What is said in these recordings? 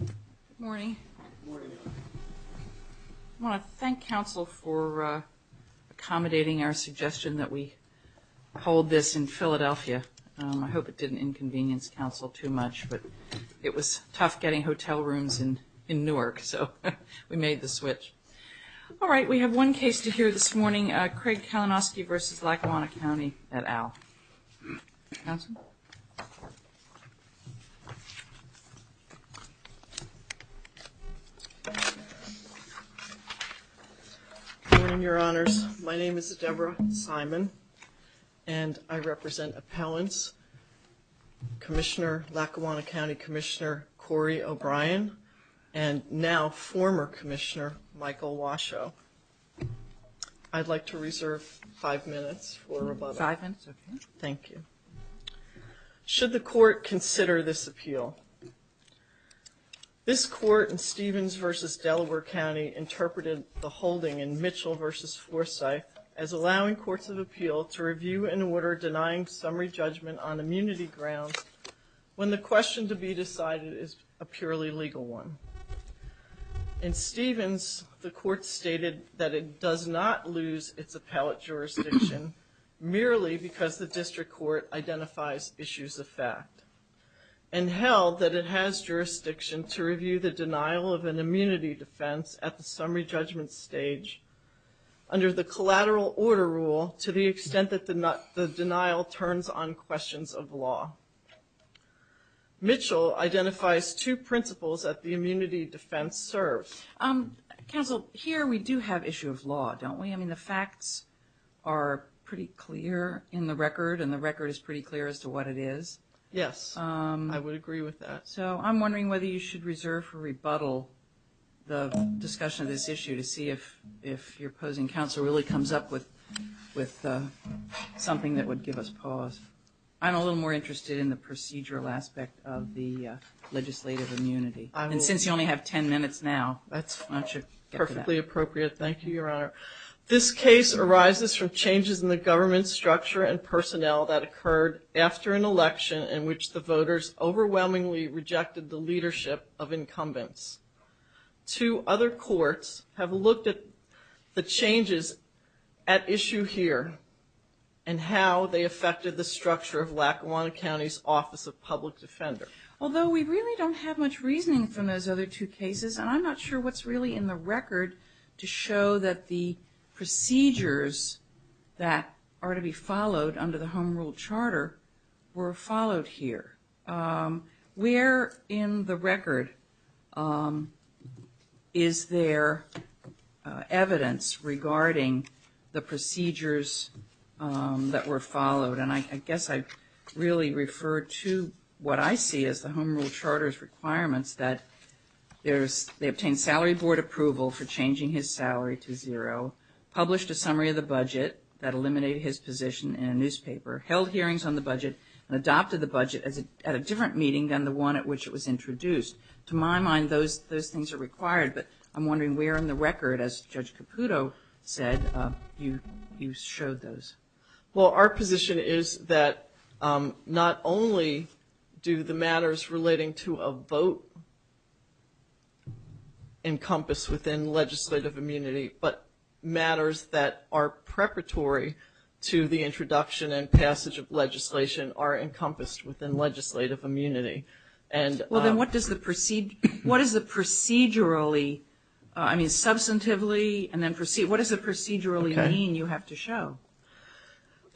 Good morning. I want to thank counsel for accommodating our suggestion that we hold this in Philadelphia. I hope it didn't inconvenience counsel too much, but it was tough getting hotel rooms in in Newark, so we made the switch. All right, we have one case to hear this morning, Craig Kalinoski v. Lackawana County et al. Good morning, your honors. My name is Deborah Simon and I represent appellants, Commissioner Lackawanna County Commissioner Cory O'Brien and now Thank you. Should the court consider this appeal? This court in Stevens v. Delaware County interpreted the holding in Mitchell v. Forsyth as allowing courts of appeal to review an order denying summary judgment on immunity grounds when the question to be decided is a purely legal one. In Stevens, the merely because the district court identifies issues of fact and held that it has jurisdiction to review the denial of an immunity defense at the summary judgment stage under the collateral order rule to the extent that the denial turns on questions of law. Mitchell identifies two principles that the immunity defense serves. Counsel, here we do have issue of law, don't we? I mean facts are pretty clear in the record and the record is pretty clear as to what it is. Yes, I would agree with that. So I'm wondering whether you should reserve for rebuttal the discussion of this issue to see if your opposing counsel really comes up with something that would give us pause. I'm a little more interested in the procedural aspect of the legislative immunity and since you only have 10 minutes now. That's perfectly appropriate, thank you, Your Honor. This case arises from changes in the government structure and personnel that occurred after an election in which the voters overwhelmingly rejected the leadership of incumbents. Two other courts have looked at the changes at issue here and how they affected the structure of Lackawanna County's Office of Public Defender. Although we really don't have much reasoning from those other two cases and I'm not sure what's really in the record to show that the procedures that are to be followed under the Home Rule Charter were followed here. Where in the record is there evidence regarding the procedures that were followed? And I guess I really refer to what I see as the Home Rule Charter's requirements that there's, they obtain salary board approval for changing his salary to zero, published a summary of the budget that eliminated his position in a newspaper, held hearings on the budget, and adopted the budget at a different meeting than the one at which it was introduced. To my mind, those things are required, but I'm wondering where in the record, as Judge Caputo said, you showed those? Well, our position is that not only do the matters relating to a vote encompass within legislative immunity, but matters that are preparatory to the introduction and passage of legislation are encompassed within legislative immunity. Well, then what does the procedure, what is the procedurally, I mean substantively and then proceed, what does the procedurally mean you have to show?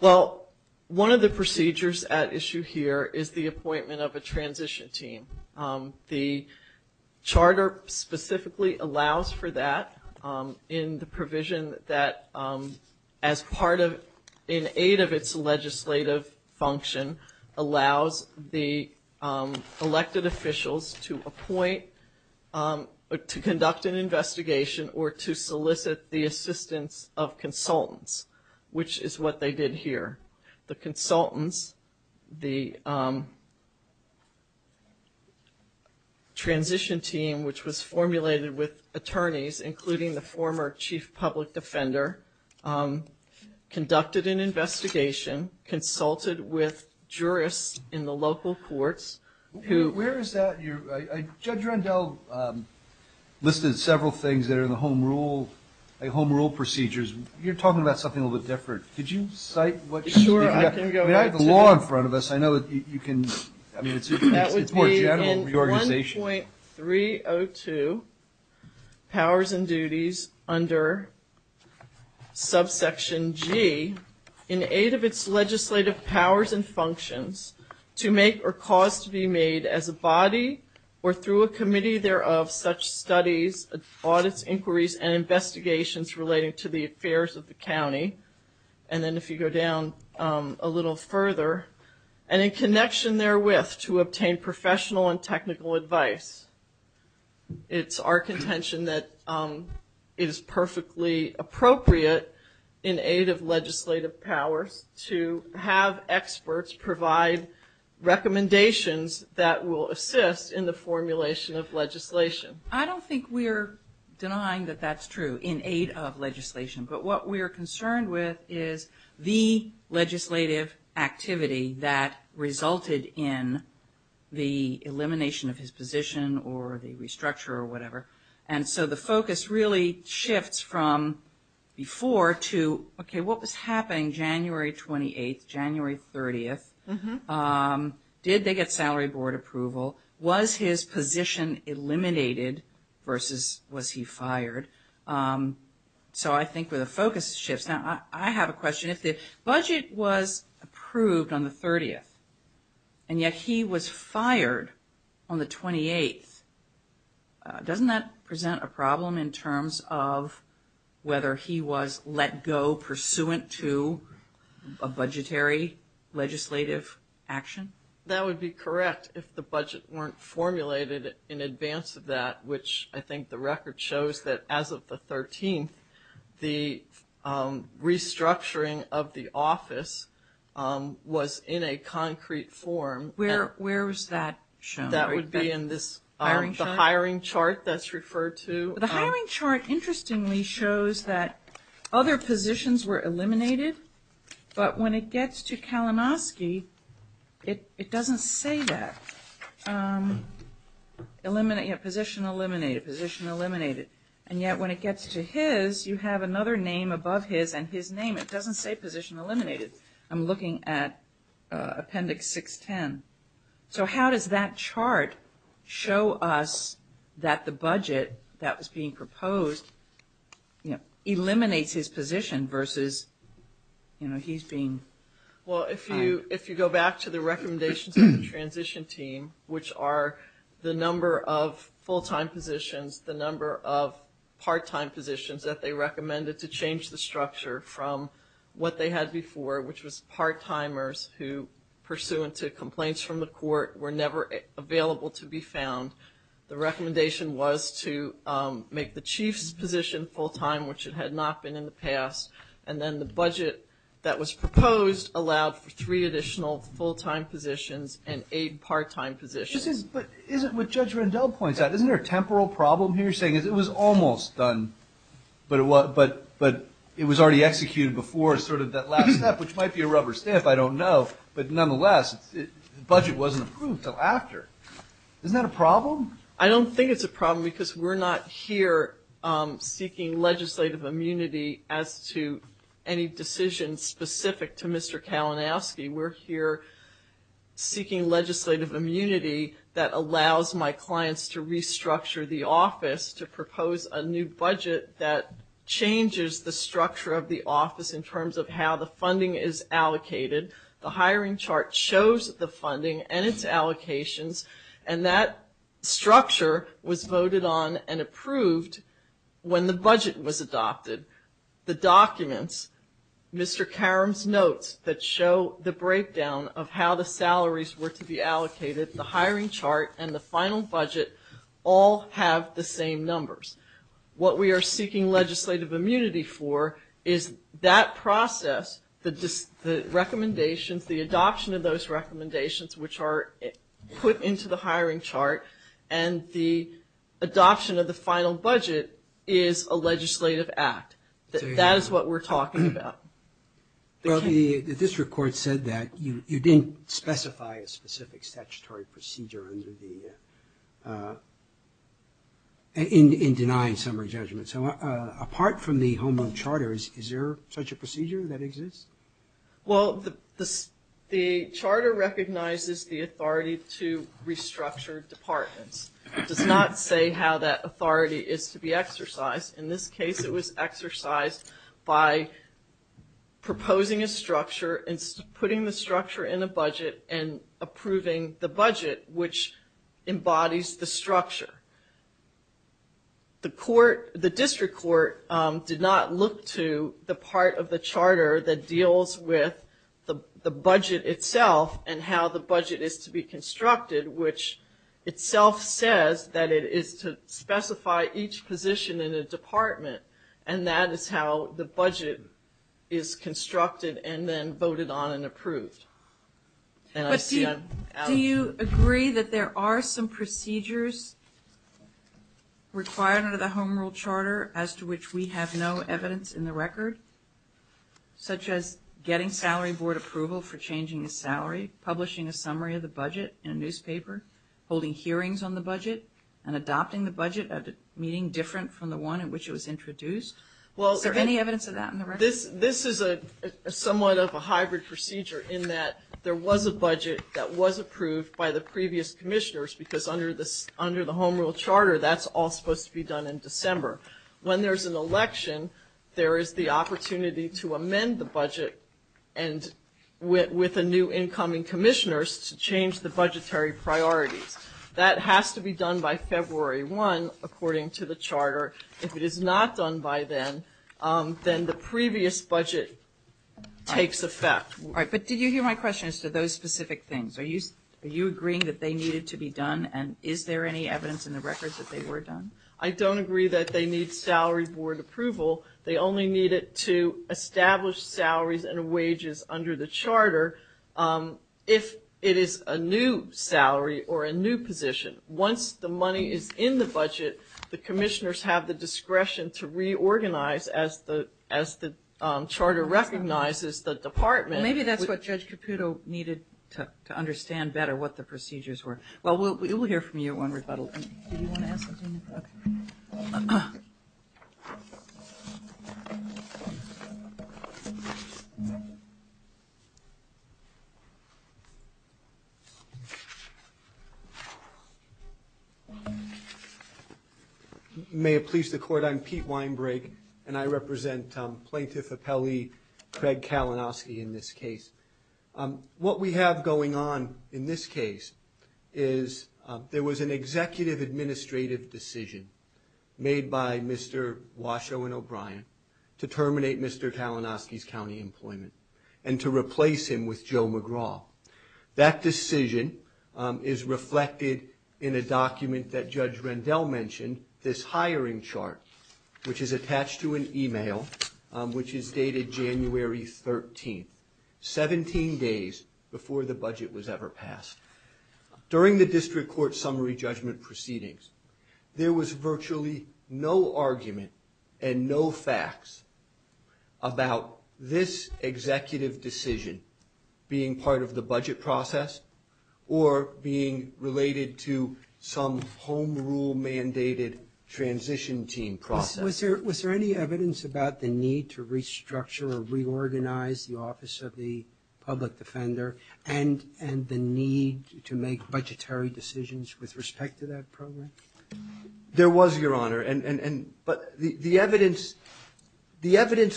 Well, one of the procedures at issue here is the appointment of a transition team. The charter specifically allows for that in the provision that as part of, in aid of its legislative function, allows the elected officials to appoint, to conduct an investigation, or to solicit the assistance of consultants, which is what they did here. The consultants, the transition team, which was formulated with attorneys, including the former chief public defender, conducted an investigation, consulted with jurists in the local courts. Where is that? Judge Rendell listed several things that are in the home rule, home rule procedures. You're talking about something a little different. Could you cite what you've got? I have the law in front of us, I know that you can, I mean it's more general reorganization. That would be in 1.302, Powers and Duties, under subsection G, in aid of its legislative powers and functions, to make or cause to be made as a body, or through a committee thereof, such studies, audits, inquiries, and investigations relating to the affairs of the county. And then if you go down a little further, and in connection therewith, to obtain professional and technical advice. It's our contention that it is perfectly appropriate, in aid of legislative powers, to have experts provide recommendations that will assist in the formulation of But what we are concerned with is the legislative activity that resulted in the elimination of his position, or the restructure, or whatever. And so the focus really shifts from before to, okay what was happening January 28th, January 30th? Did they get salary board approval? Was his position eliminated versus was he the focus shifts? Now I have a question. If the budget was approved on the 30th, and yet he was fired on the 28th, doesn't that present a problem in terms of whether he was let go pursuant to a budgetary legislative action? That would be correct if the budget weren't formulated in advance of that, which I the 13th, the restructuring of the office was in a concrete form. Where was that shown? That would be in this hiring chart that's referred to. The hiring chart interestingly shows that other positions were eliminated, but when it gets to Kalanoski, it doesn't say that. Position eliminated, position eliminated, and yet when it gets to his, you have another name above his and his name. It doesn't say position eliminated. I'm looking at appendix 610. So how does that chart show us that the budget that was being proposed eliminates his position versus, you know, he's being fired? Well if you go back to the recommendations of the are the number of full-time positions, the number of part-time positions that they recommended to change the structure from what they had before, which was part-timers who, pursuant to complaints from the court, were never available to be found. The recommendation was to make the chief's position full-time, which it had not been in the past, and then the budget that was proposed allowed for But isn't what Judge Rendell points out, isn't there a temporal problem here? You're saying it was almost done, but it was already executed before, sort of that last step, which might be a rubber stamp, I don't know, but nonetheless the budget wasn't approved until after. Isn't that a problem? I don't think it's a problem because we're not here seeking legislative immunity as to any decision specific to Mr. Kalinowski. We're here seeking legislative immunity that allows my clients to restructure the office to propose a new budget that changes the structure of the office in terms of how the funding is allocated. The hiring chart shows the funding and its allocations and that structure was that show the breakdown of how the salaries were to be allocated. The hiring chart and the final budget all have the same numbers. What we are seeking legislative immunity for is that process, the recommendations, the adoption of those recommendations which are put into the hiring chart and the adoption of the final budget is a legislative act. That is what we're talking about. Well, the district court said that you didn't specify a specific statutory procedure in denying summary judgment. So apart from the home loan charter, is there such a procedure that exists? Well, the charter recognizes the authority to restructure departments. It does not say how that authority is to be exercised. In this case it was exercised by proposing a structure and putting the structure in a budget and approving the budget which embodies the structure. The district court did not look to the part of the charter that deals with the budget itself and how the budget is to be specified. Each position in a department and that is how the budget is constructed and then voted on and approved. Do you agree that there are some procedures required under the home rule charter as to which we have no evidence in the record? Such as getting salary board approval for changing the salary, publishing a summary of the budget in a newspaper, holding hearings on the budget, and adopting the budget at a meeting different from the one in which it was introduced. Is there any evidence of that? This is a somewhat of a hybrid procedure in that there was a budget that was approved by the previous commissioners because under the home rule charter that's all supposed to be done in December. When there's an election, there is the opportunity to amend the budget and with a new incoming commissioners to budgetary priorities. That has to be done by February 1 according to the charter. If it is not done by then, then the previous budget takes effect. But did you hear my question as to those specific things? Are you agreeing that they needed to be done and is there any evidence in the records that they were done? I don't agree that they need salary board approval. They only need it to establish salaries and wages under the charter. If it is a new salary or a new position, once the money is in the budget, the commissioners have the discretion to reorganize as the as the charter recognizes the department. Maybe that's what Judge Caputo needed to understand better what the procedures were. Well we'll hear from you on rebuttal. May it please the court, I'm Pete Weinbreg and I represent Plaintiff Appellee Craig Kalinowski in this case. What we have going on in this case is there was an executive administrative decision made by Mr. Washoe and O'Brien to terminate Mr. Kalinowski's county employment and to replace him with Joe McGraw. That decision is reflected in a document that Judge Rendell mentioned, this hiring chart, which is attached to an email which is dated January 13th, 17 days before the budget was ever passed. During the district court summary judgment proceedings, there was virtually no argument and no facts about this being part of the budget process or being related to some home rule mandated transition team process. Was there any evidence about the need to restructure or reorganize the Office of the Public Defender and the need to make budgetary decisions with respect to that program? There was, Your Honor, but the evidence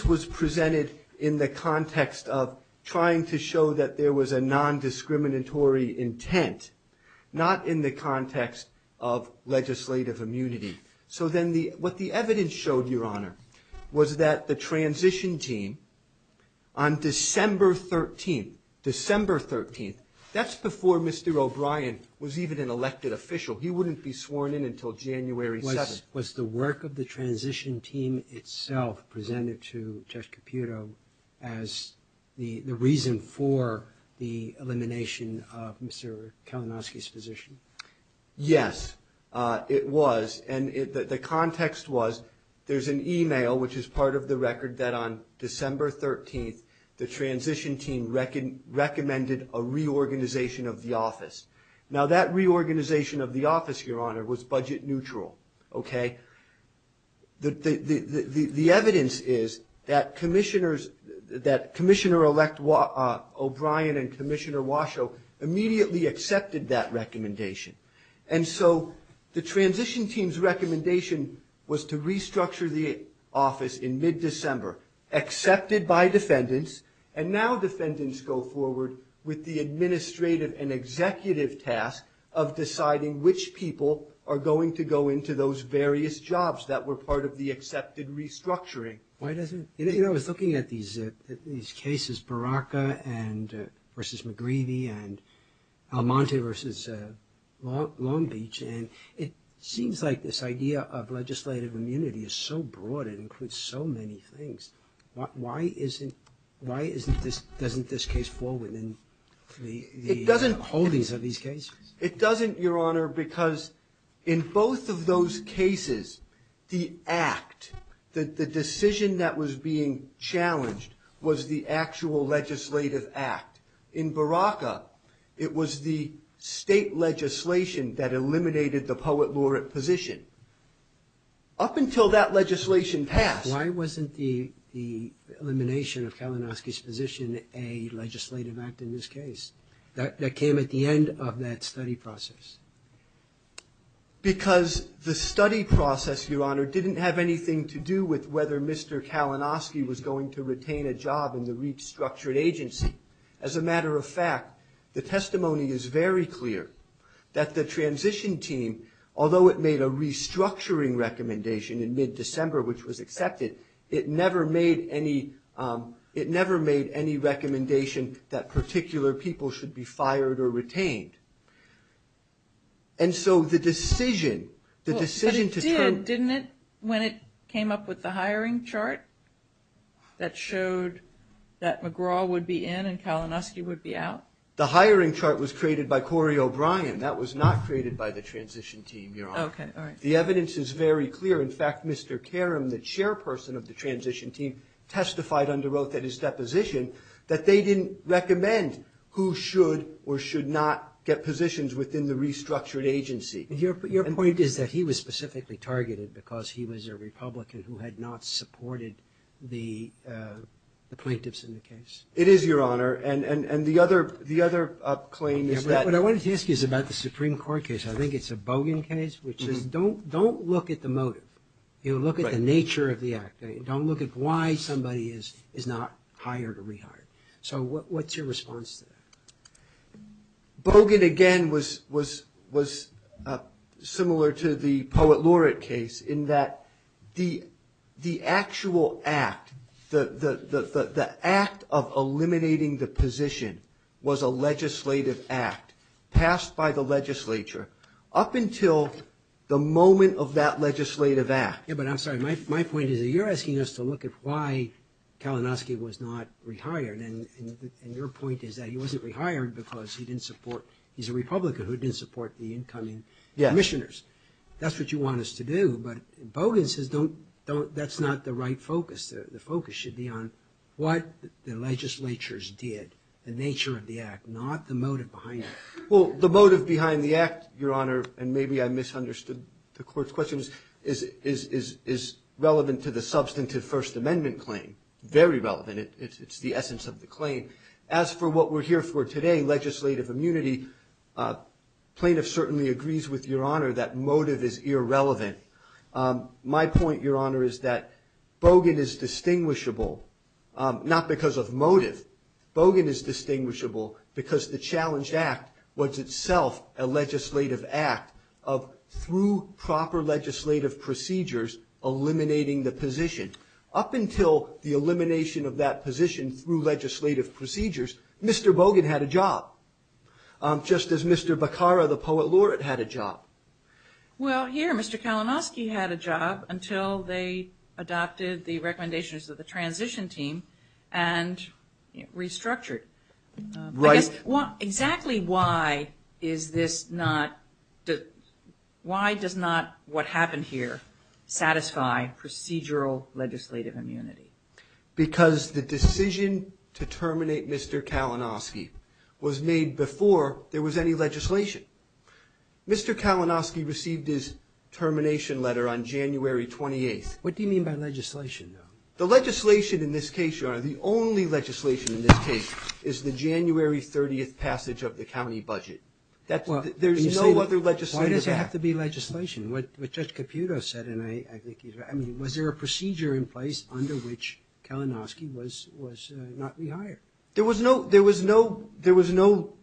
was presented in the context of trying to show that there was a non-discriminatory intent, not in the context of legislative immunity. So then what the evidence showed, Your Honor, was that the transition team on December 13th, that's before Mr. O'Brien was even an elected official. He wouldn't be sworn in until January 7th. Was the work of the elimination of Mr. Kalinowski's position? Yes, it was, and the context was there's an email which is part of the record that on December 13th, the transition team recommended a reorganization of the office. Now that reorganization of the office, Your Honor, was budget neutral, okay? The evidence is that Commissioner-Elect O'Brien and Commissioner Washoe immediately accepted that recommendation. And so the transition team's recommendation was to restructure the office in mid-December, accepted by defendants, and now defendants go forward with the administrative and executive task of deciding which people are going to go into those various jobs that were part of the accepted restructuring. Why doesn't, you know, I was looking at these cases, Baraka versus McGreevy and Almonte versus Long Beach, and it seems like this idea of legislative immunity is so broad, it includes so many things. Why isn't, why isn't this, doesn't this case fall within the holdings of these cases? It doesn't, Your Honor, because in both of those cases, the act, the decision that was being challenged was the actual legislative act. In Baraka, it was the state legislation that eliminated the poet laureate position. Up until that legislation passed. Why wasn't the elimination of Kalinowski's position a legislative act in this case? That came at the end of that study process. Because the study process, Your Honor, didn't have anything to do with whether Mr. Kalinowski was going to retain a job in the restructured agency. As a matter of fact, the testimony is very clear that the transition team, although it made a restructuring recommendation in mid-December, which was any recommendation that particular people should be fired or retained. And so the decision, the decision to turn... But it did, didn't it, when it came up with the hiring chart that showed that McGraw would be in and Kalinowski would be out? The hiring chart was created by Corey O'Brien. That was not created by the transition team, Your Honor. Okay, all right. The evidence is very clear. In fact, Mr. Karam, the chairperson of the transition team, testified under oath at his deposition that they didn't recommend who should or should not get positions within the restructured agency. Your point is that he was specifically targeted because he was a Republican who had not supported the plaintiffs in the case. It is, Your Honor. And the other claim is that... What I wanted to ask you is about the Supreme Court case. I think it's a Bogan case, which is don't look at the motive. You know, look at the nature of the act. Don't look at why somebody is not hired or rehired. So what's your response to that? Bogan, again, was similar to the Poet Laureate case in that the actual act, the act of eliminating the position, was a legislative act passed by the legislature up until the moment of that legislative act. Yeah, but I'm sorry. My point is that you're asking us to look at why Kalinowski was not rehired. And your point is that he wasn't rehired because he didn't support...he's a Republican who didn't support the incoming commissioners. That's what you want us to do. But Bogan says that's not the right focus. The focus should be on what the legislatures did, the nature of the act, not the motive behind it. Well, the motive behind the act, Your Honor, and maybe I misunderstood the claim, is relevant to the substantive First Amendment claim. Very relevant. It's the essence of the claim. As for what we're here for today, legislative immunity, plaintiff certainly agrees with Your Honor that motive is irrelevant. My point, Your Honor, is that Bogan is distinguishable not because of motive. Bogan is distinguishable because the challenged act was itself a legislative act of, through proper legislative procedures, eliminating the position. Up until the elimination of that position through legislative procedures, Mr. Bogan had a job, just as Mr. Beccara, the poet laureate, had a job. Well, here, Mr. Kalinowski had a job until they adopted the recommendations of the transition team and restructured. Right. Exactly why is this not, why does not what happened here satisfy procedural legislative immunity? Because the decision to terminate Mr. Kalinowski was made before there was any legislation. Mr. Kalinowski received his termination letter on January 28th. What do you mean by legislation, though? The legislation in this case, Your Honor, the only legislation in this case is the January 30th passage of the county budget. That's, there's no other legislative act. Why does it have to be legislation? What Judge Caputo said, and I think he's right, I mean, was there a procedure in place under which Kalinowski was not rehired? There was no, there was no, there was no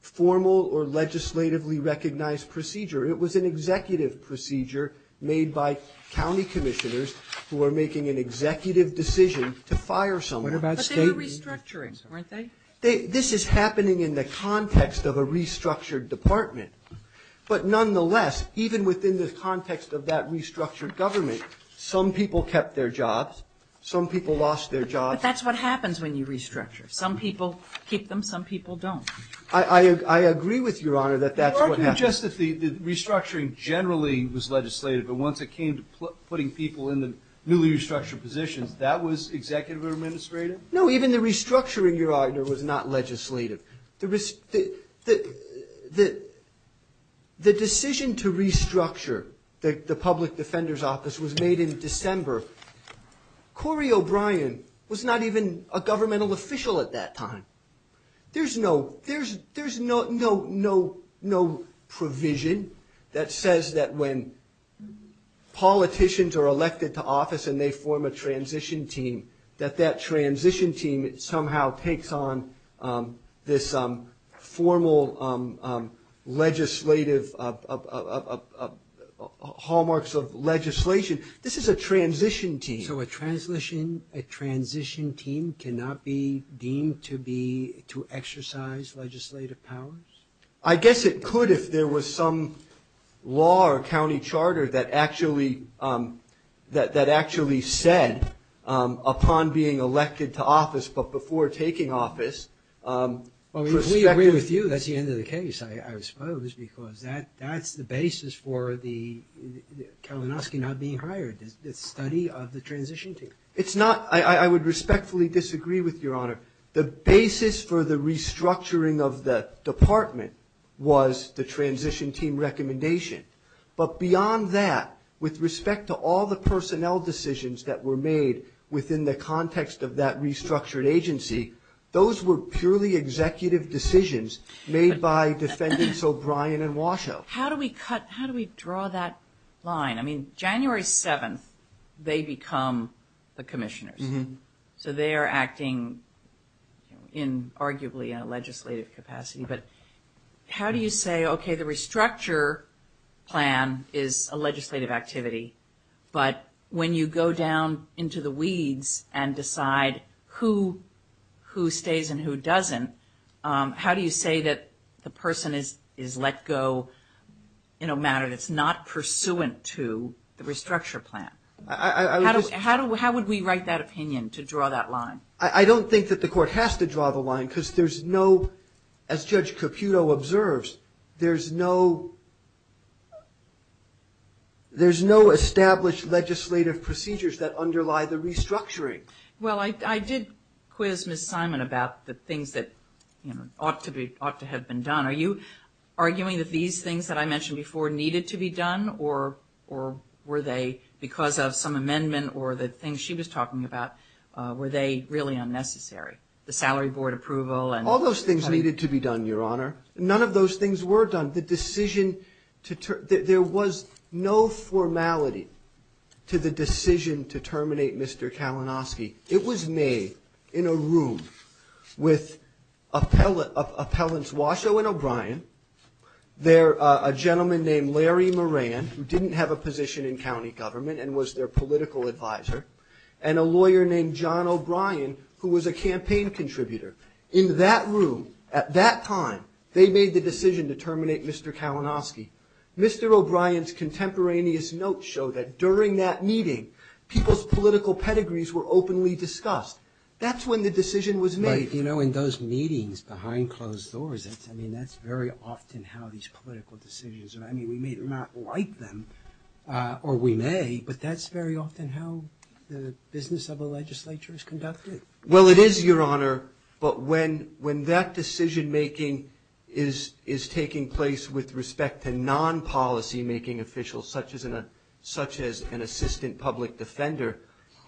formal or legislatively recognized procedure. It was an executive procedure made by county commissioners who were making an executive decision to fire someone. What about state? But they were restructuring, weren't they? This is happening in the context of a restructured department. But nonetheless, even within the context of that restructured government, some people kept their jobs. Some people lost their jobs. But that's what happens when you restructure. Some people keep them, some people don't. I, I, I agree with Your Honor that that's what happened. You're arguing just that the, the restructuring generally was legislative, but once it came to putting people in the newly restructured positions, that was executive or administrative? No, even the restructuring, Your Honor, was not legislative. The, the, the, the decision to restructure the, the public defender's office was made in December. Corey O'Brien was not even a governmental official at that time. There's no, there's, there's no, no, no, no provision that says that when politicians are elected to office and they form a transition team, that that transition team somehow takes on this formal legislative, of, of, of, of, of hallmarks of legislation. This is a transition team. So a transition, a transition team cannot be deemed to be, to exercise legislative powers? I guess it could if there was some law or county charter that actually that, that actually said upon being elected to office, but before taking office. Well, if we agree with you, that's the end of the case, I, I suppose, because that, that's the basis for the Kalinowski not being hired. The study of the transition team. It's not, I, I, I would respectfully disagree with Your Honor. The basis for the restructuring of the department was the transition team recommendation. But beyond that, with respect to all the personnel decisions that were made within the context of that restructured agency, those were purely executive decisions made by defendants O'Brien and Washoe. How do we cut, how do we draw that line? I mean, January 7th, they become the commissioners. So they are acting, you know, in arguably a legislative capacity. But how do you say, okay, the restructure plan is a legislative activity, but when you go down into the weeds and decide who, who stays and who doesn't, how do you say that the person is, is let go in a manner that's not pursuant to the restructure plan? I, I, I would just. How do, how would we write that opinion to draw that line? I, I don't think that the court has to draw the line because there's no, as Judge Caputo observes, there's no, there's no established legislative procedures that underlie the restructuring. Well, I, I did quiz Ms. Simon about the things that, you know, ought to be, ought to have been done. Are you arguing that these things that I mentioned before needed to be done or, or were they because of some amendment or the things she was talking about? Were they really unnecessary? The salary board approval and. All those things needed to be done, Your Honor. None of those things were done. The decision to, there, there was no formality to the decision to terminate Mr. Kalinowski. It was made in a room with appellate, appellants Washoe and O'Brien. There, a gentleman named Larry Moran, who didn't have a position in county government and was their political advisor, and a lawyer named John O'Brien, who was a campaign contributor. In that room, at that time, they made the decision to terminate Mr. Kalinowski. Mr. O'Brien's contemporaneous notes show that during that meeting, people's political pedigrees were openly discussed. That's when the decision was made. But, you know, in those meetings behind closed doors, that's, I mean, that's very often how these political decisions are, I mean, we may not like them. Or we may, but that's very often how the business of a legislature is conducted. Well, it is, Your Honor, but when, when that decision-making is, is taking place with respect to non-policy-making officials, such as an, such as an assistant public defender,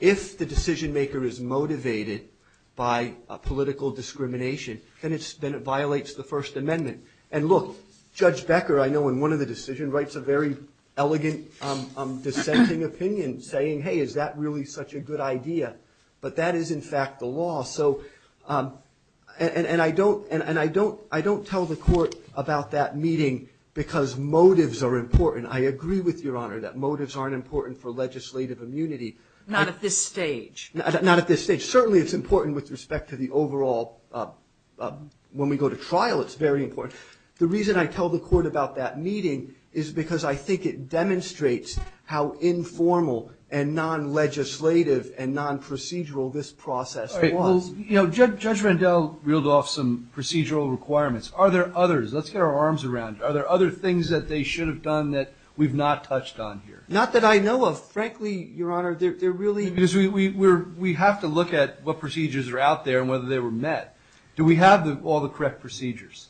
if the decision-maker is motivated by a political discrimination, then it's, then it violates the First Amendment. And look, Judge Becker, I know, in one of the decision rights, a very elegant dissenting opinion, saying, hey, is that really such a good idea? But that is, in fact, the law. So, and, and I don't, and I don't, I don't tell the court about that meeting because motives are important. I agree with Your Honor that motives aren't important for legislative immunity. Not at this stage. Not at this stage. Certainly it's important with respect to the overall, when we go to trial, it's very important. The reason I tell the court about that meeting is because I think it demonstrates how informal and non-legislative and non-procedural this process was. All right, well, you know, Judge, Judge Randell reeled off some procedural requirements. Are there others? Let's get our arms around it. Are there other things that they should have done that we've not touched on here? Not that I know of. Frankly, Your Honor, they're, they're really. Because we, we, we're, we have to look at what procedures are out there and whether they were met. Do we have the, all the correct procedures?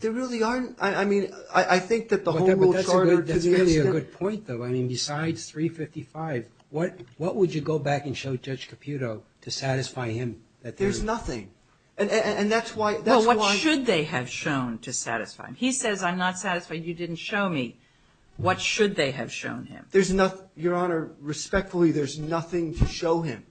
There really aren't. I, I mean, I, I think that the whole world started to the extent. That's a good point, though. I mean, besides 355, what, what would you go back and show Judge Caputo to satisfy him that there's. There's nothing. And, and, and that's why, that's why. Well, what should they have shown to satisfy him? He says I'm not satisfied, you didn't show me. What should they have shown him? There's not, Your Honor, respectfully, there's nothing to show him.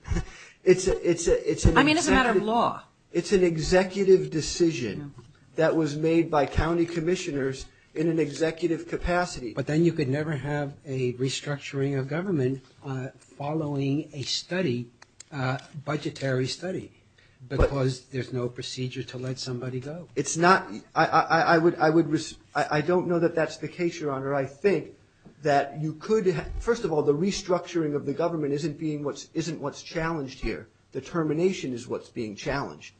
It's a, it's a, it's a. I mean, it's a matter of law. It's an executive decision. That was made by county commissioners in an executive capacity. But then you could never have a restructuring of government following a study, a budgetary study, because there's no procedure to let somebody go. It's not, I, I, I would, I would, I don't know that that's the case, Your Honor. I think that you could have, first of all, the restructuring of the government isn't being what's, isn't what's challenged here. The termination is what's being challenged.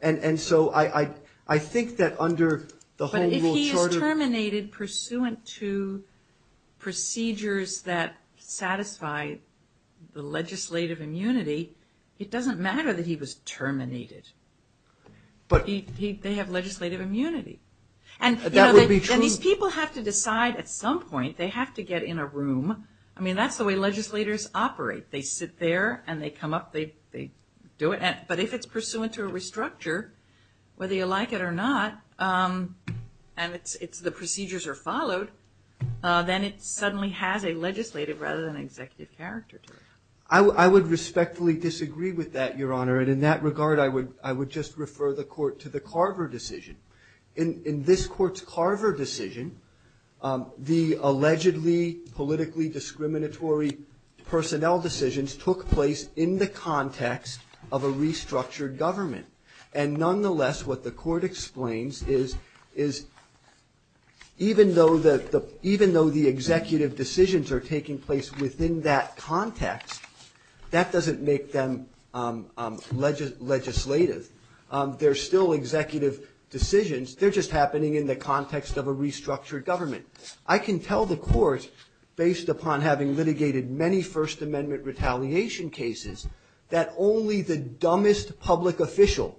And, and so I, I, I think that under the whole rule charter. He is terminated pursuant to procedures that satisfy the legislative immunity. It doesn't matter that he was terminated. But he, he, they have legislative immunity. And, you know, they, these people have to decide at some point, they have to get in a room. I mean, that's the way legislators operate. They sit there and they come up, they, they do it. But if it's pursuant to a restructure, whether you like it or not. And it's, it's the procedures are followed. Then it suddenly has a legislative rather than executive character to it. I, I would respectfully disagree with that, Your Honor. And in that regard, I would, I would just refer the court to the Carver decision. In, in this court's Carver decision the allegedly politically discriminatory personnel decisions took place in the context of a restructured government. And nonetheless, what the court explains is, is even though the, even though the executive decisions are taking place within that context. That doesn't make them legislative. They're still executive decisions. They're just happening in the context of a restructured government. I can tell the court, based upon having litigated many First Amendment retaliation cases, that only the dumbest public official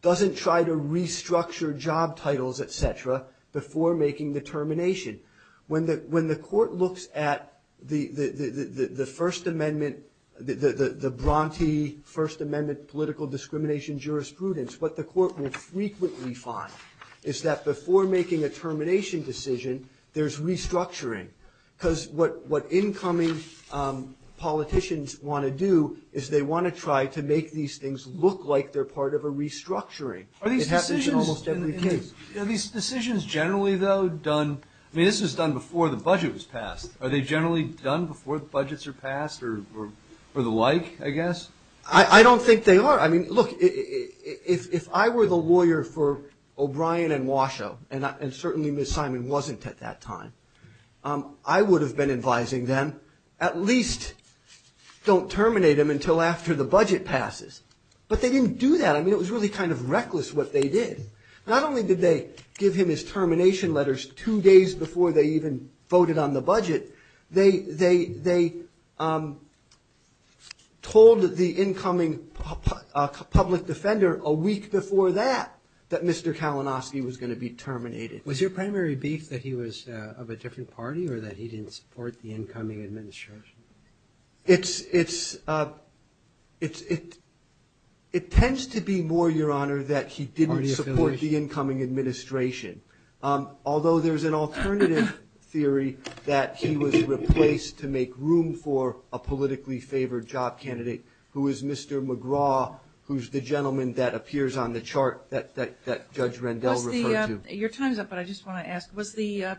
doesn't try to restructure job titles, etc., before making the termination. When the, when the court looks at the, the, the, the, the First Amendment, the, the, the, the Bronte First Amendment political discrimination jurisprudence. What the court will frequently find is that before making a termination decision, there's restructuring, because what, what incoming politicians want to do, is they want to try to make these things look like they're part of a restructuring. It happens in almost every case. Are these decisions generally, though, done, I mean, this was done before the budget was passed. Are they generally done before the budgets are passed, or, or, or the like, I guess? I, I don't think they are. I mean, look, if, if I were the lawyer for O'Brien and Washoe, and I, and certainly Ms. Simon wasn't at that time, I would have been advising them, at least don't terminate him until after the budget passes. But they didn't do that. I mean, it was really kind of reckless what they did. Not only did they give him his termination letters two days before they even voted on the budget, they, they, they told the incoming public defender a week before that, that Mr. Kalinowski was going to be terminated. Was your primary beef that he was of a different party, or that he didn't support the incoming administration? It's, it's it's, it, it tends to be more, Your Honor, that he didn't support the incoming administration. Although there's an alternative theory that he was replaced to make room for a politically favored job candidate who is Mr. McGraw, who's the gentleman that appears on the chart that, that, that Judge Rendell referred to. Your time's up, but I just want to ask, was the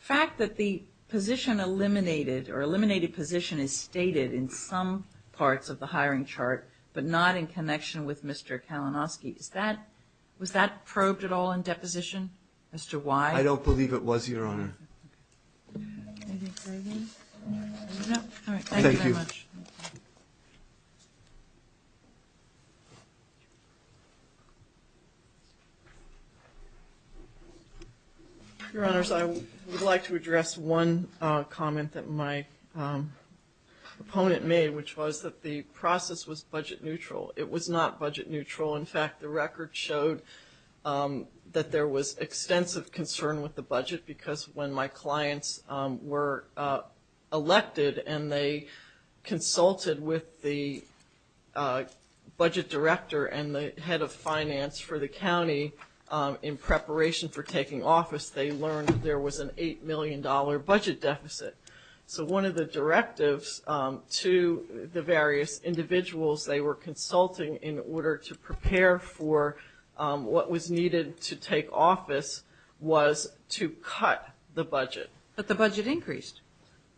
fact that the position eliminated, or eliminated position is stated in some parts of the hiring chart, but not in connection with Mr. Kalinowski, is that, was that probed at all in deposition? As to why? I don't believe it was, Your Honor. Okay. No? All right. Thank you very much. Thank you. Your Honors, I would like to address one comment that my opponent made, which was that the process was budget neutral. It was not budget neutral. In fact, the record showed that there was extensive concern with the budget because when my clients were elected and they consulted with the budget director and the head of finance for the county in preparation for taking office, they learned that there was an $8 million budget deficit. So one of the directives to the various individuals they were consulting in order to prepare for what was needed to take office was to cut the budget. But the budget increased.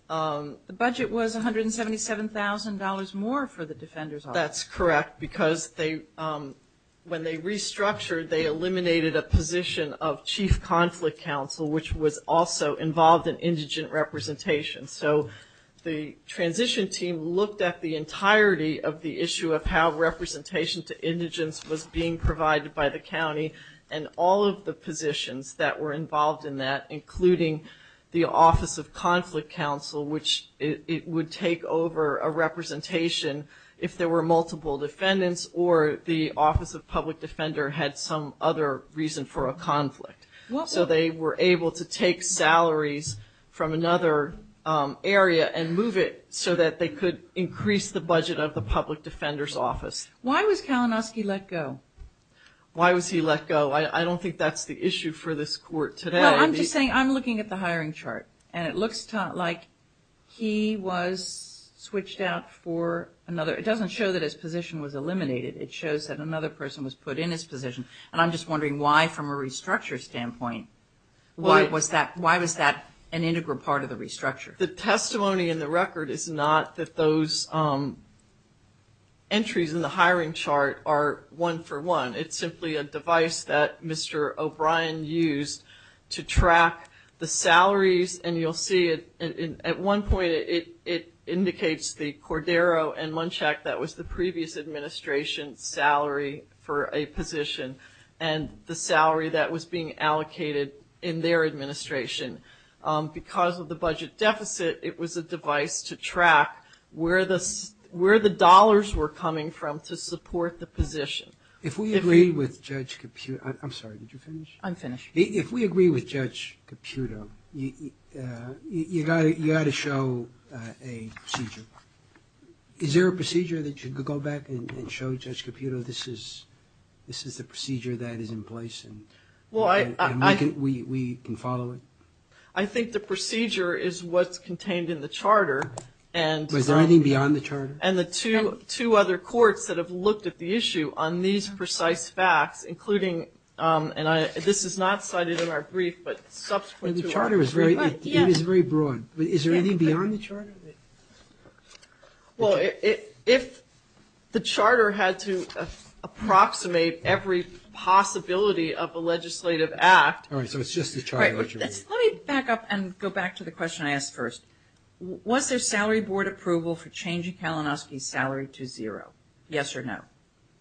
The budget was $177,000 more for the defender's office. That's correct because they, when they restructured, they eliminated a position of chief conflict counsel, which was also involved in indigent representation. So the transition team looked at the entirety of the issue of how representation to indigents was being provided by the county and all of the positions that were involved in that, including the office of conflict counsel, which it would take over a representation if there were multiple defendants or the office of public defender had some other reason for a conflict. So they were able to take salaries from another area and move it so that they could increase the budget of the public defender's office. Why was Kalinowski let go? Why was he let go? I don't think that's the issue for this court today. Well, I'm just saying, I'm looking at the hiring chart and it looks like he was switched out for another, it doesn't show that his position was eliminated. It shows that another person was put in his position. And I'm just wondering why from a restructure standpoint, why was that an integral part of the restructure? The testimony in the record is not that those entries in the hiring chart are one for one. It's simply a device that Mr. O'Brien used to track the salaries. And you'll see it at one point, it indicates the Cordero and Munchak, that was the previous administration's salary for a position and the salary that was being allocated in their administration because of the budget deficit. It was a device to track where the dollars were coming from to support the position. If we agree with Judge Caputo, I'm sorry, did you finish? I'm finished. If we agree with Judge Caputo, you got to show a procedure. Is there a procedure that you could go back and show Judge Caputo, this is the procedure that is in place and we can follow it? I think the procedure is what's contained in the charter. Was there anything beyond the charter? And the two other courts that have looked at the issue on these precise facts, including, and this is not cited in our brief, but subsequent to our brief. The charter is very broad. Is there anything beyond the charter? Well, if the charter had to approximate every possibility of a legislative act. All right, so it's just the charter. Let me back up and go back to the question I asked first. Was there salary board approval for changing Kalinowski's salary to zero? Yes or no?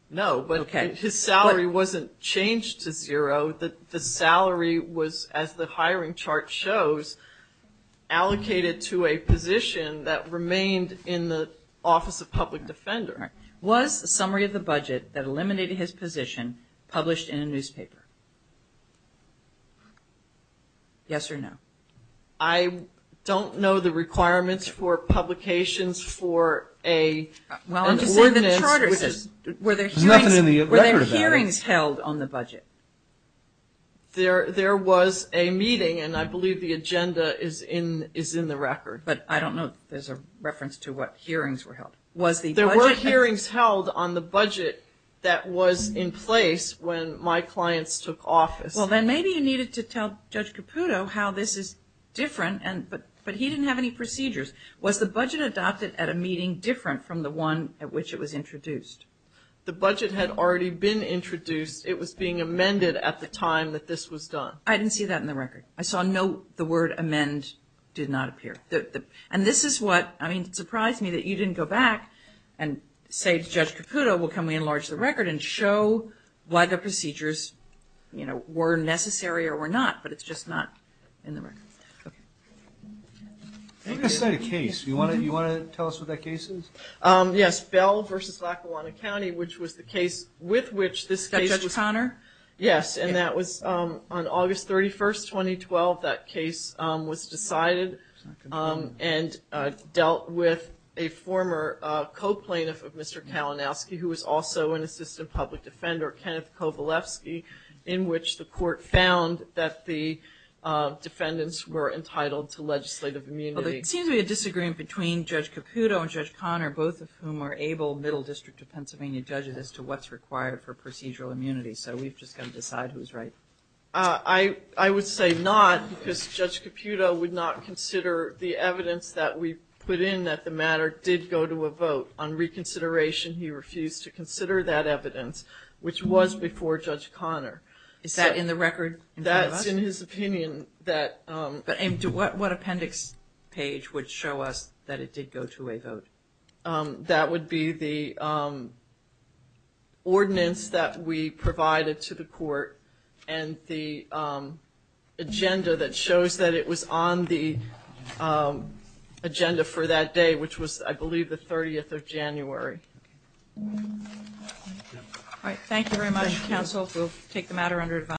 No, but his salary wasn't changed to zero. The salary was, as the hiring chart shows, allocated to a position that remained in the Office of Public Defender. Was a summary of the budget that eliminated his position published in a newspaper? Yes or no? Well, I'm just saying that the charter is, were there hearings held on the budget? There was a meeting and I believe the agenda is in the record. But I don't know if there's a reference to what hearings were held. There were hearings held on the budget that was in place when my clients took office. Well, then maybe you needed to tell Judge Caputo how this is different, but he didn't have any procedures. Was the budget adopted at a meeting different from the one at which it was introduced? The budget had already been introduced. It was being amended at the time that this was done. I didn't see that in the record. I saw no, the word amend did not appear. And this is what, I mean, it surprised me that you didn't go back and say to Judge Caputo, well, can we enlarge the record and show why the procedures, you know, were necessary or were not, but it's just not in the record. I'm going to cite a case. Do you want to tell us what that case is? Yes, Bell v. Lackawanna County, which was the case with which this case was. That Judge Connor? Yes, and that was on August 31st, 2012. That case was decided and dealt with a former co-plaintiff of Mr. Kalinowski, who was also an assistant public defender, Kenneth Kovalevsky, in which the court found that the defendants were entitled to legislative immunity. Well, there seems to be a disagreement between Judge Caputo and Judge Connor, both of whom are able Middle District of Pennsylvania judges to what's required for procedural immunity. So we've just got to decide who's right. I would say not because Judge Caputo would not consider the evidence that we put in that the matter did go to a vote. On reconsideration, he refused to consider that evidence, which was before Judge Connor. Is that in the record? That's in his opinion. But what appendix page would show us that it did go to a vote? That would be the ordinance that we provided to the court and the agenda that shows that it was on the agenda for that day, which was, I believe, the 30th of January. All right. Thank you very much, counsel. We'll take the matter under advice.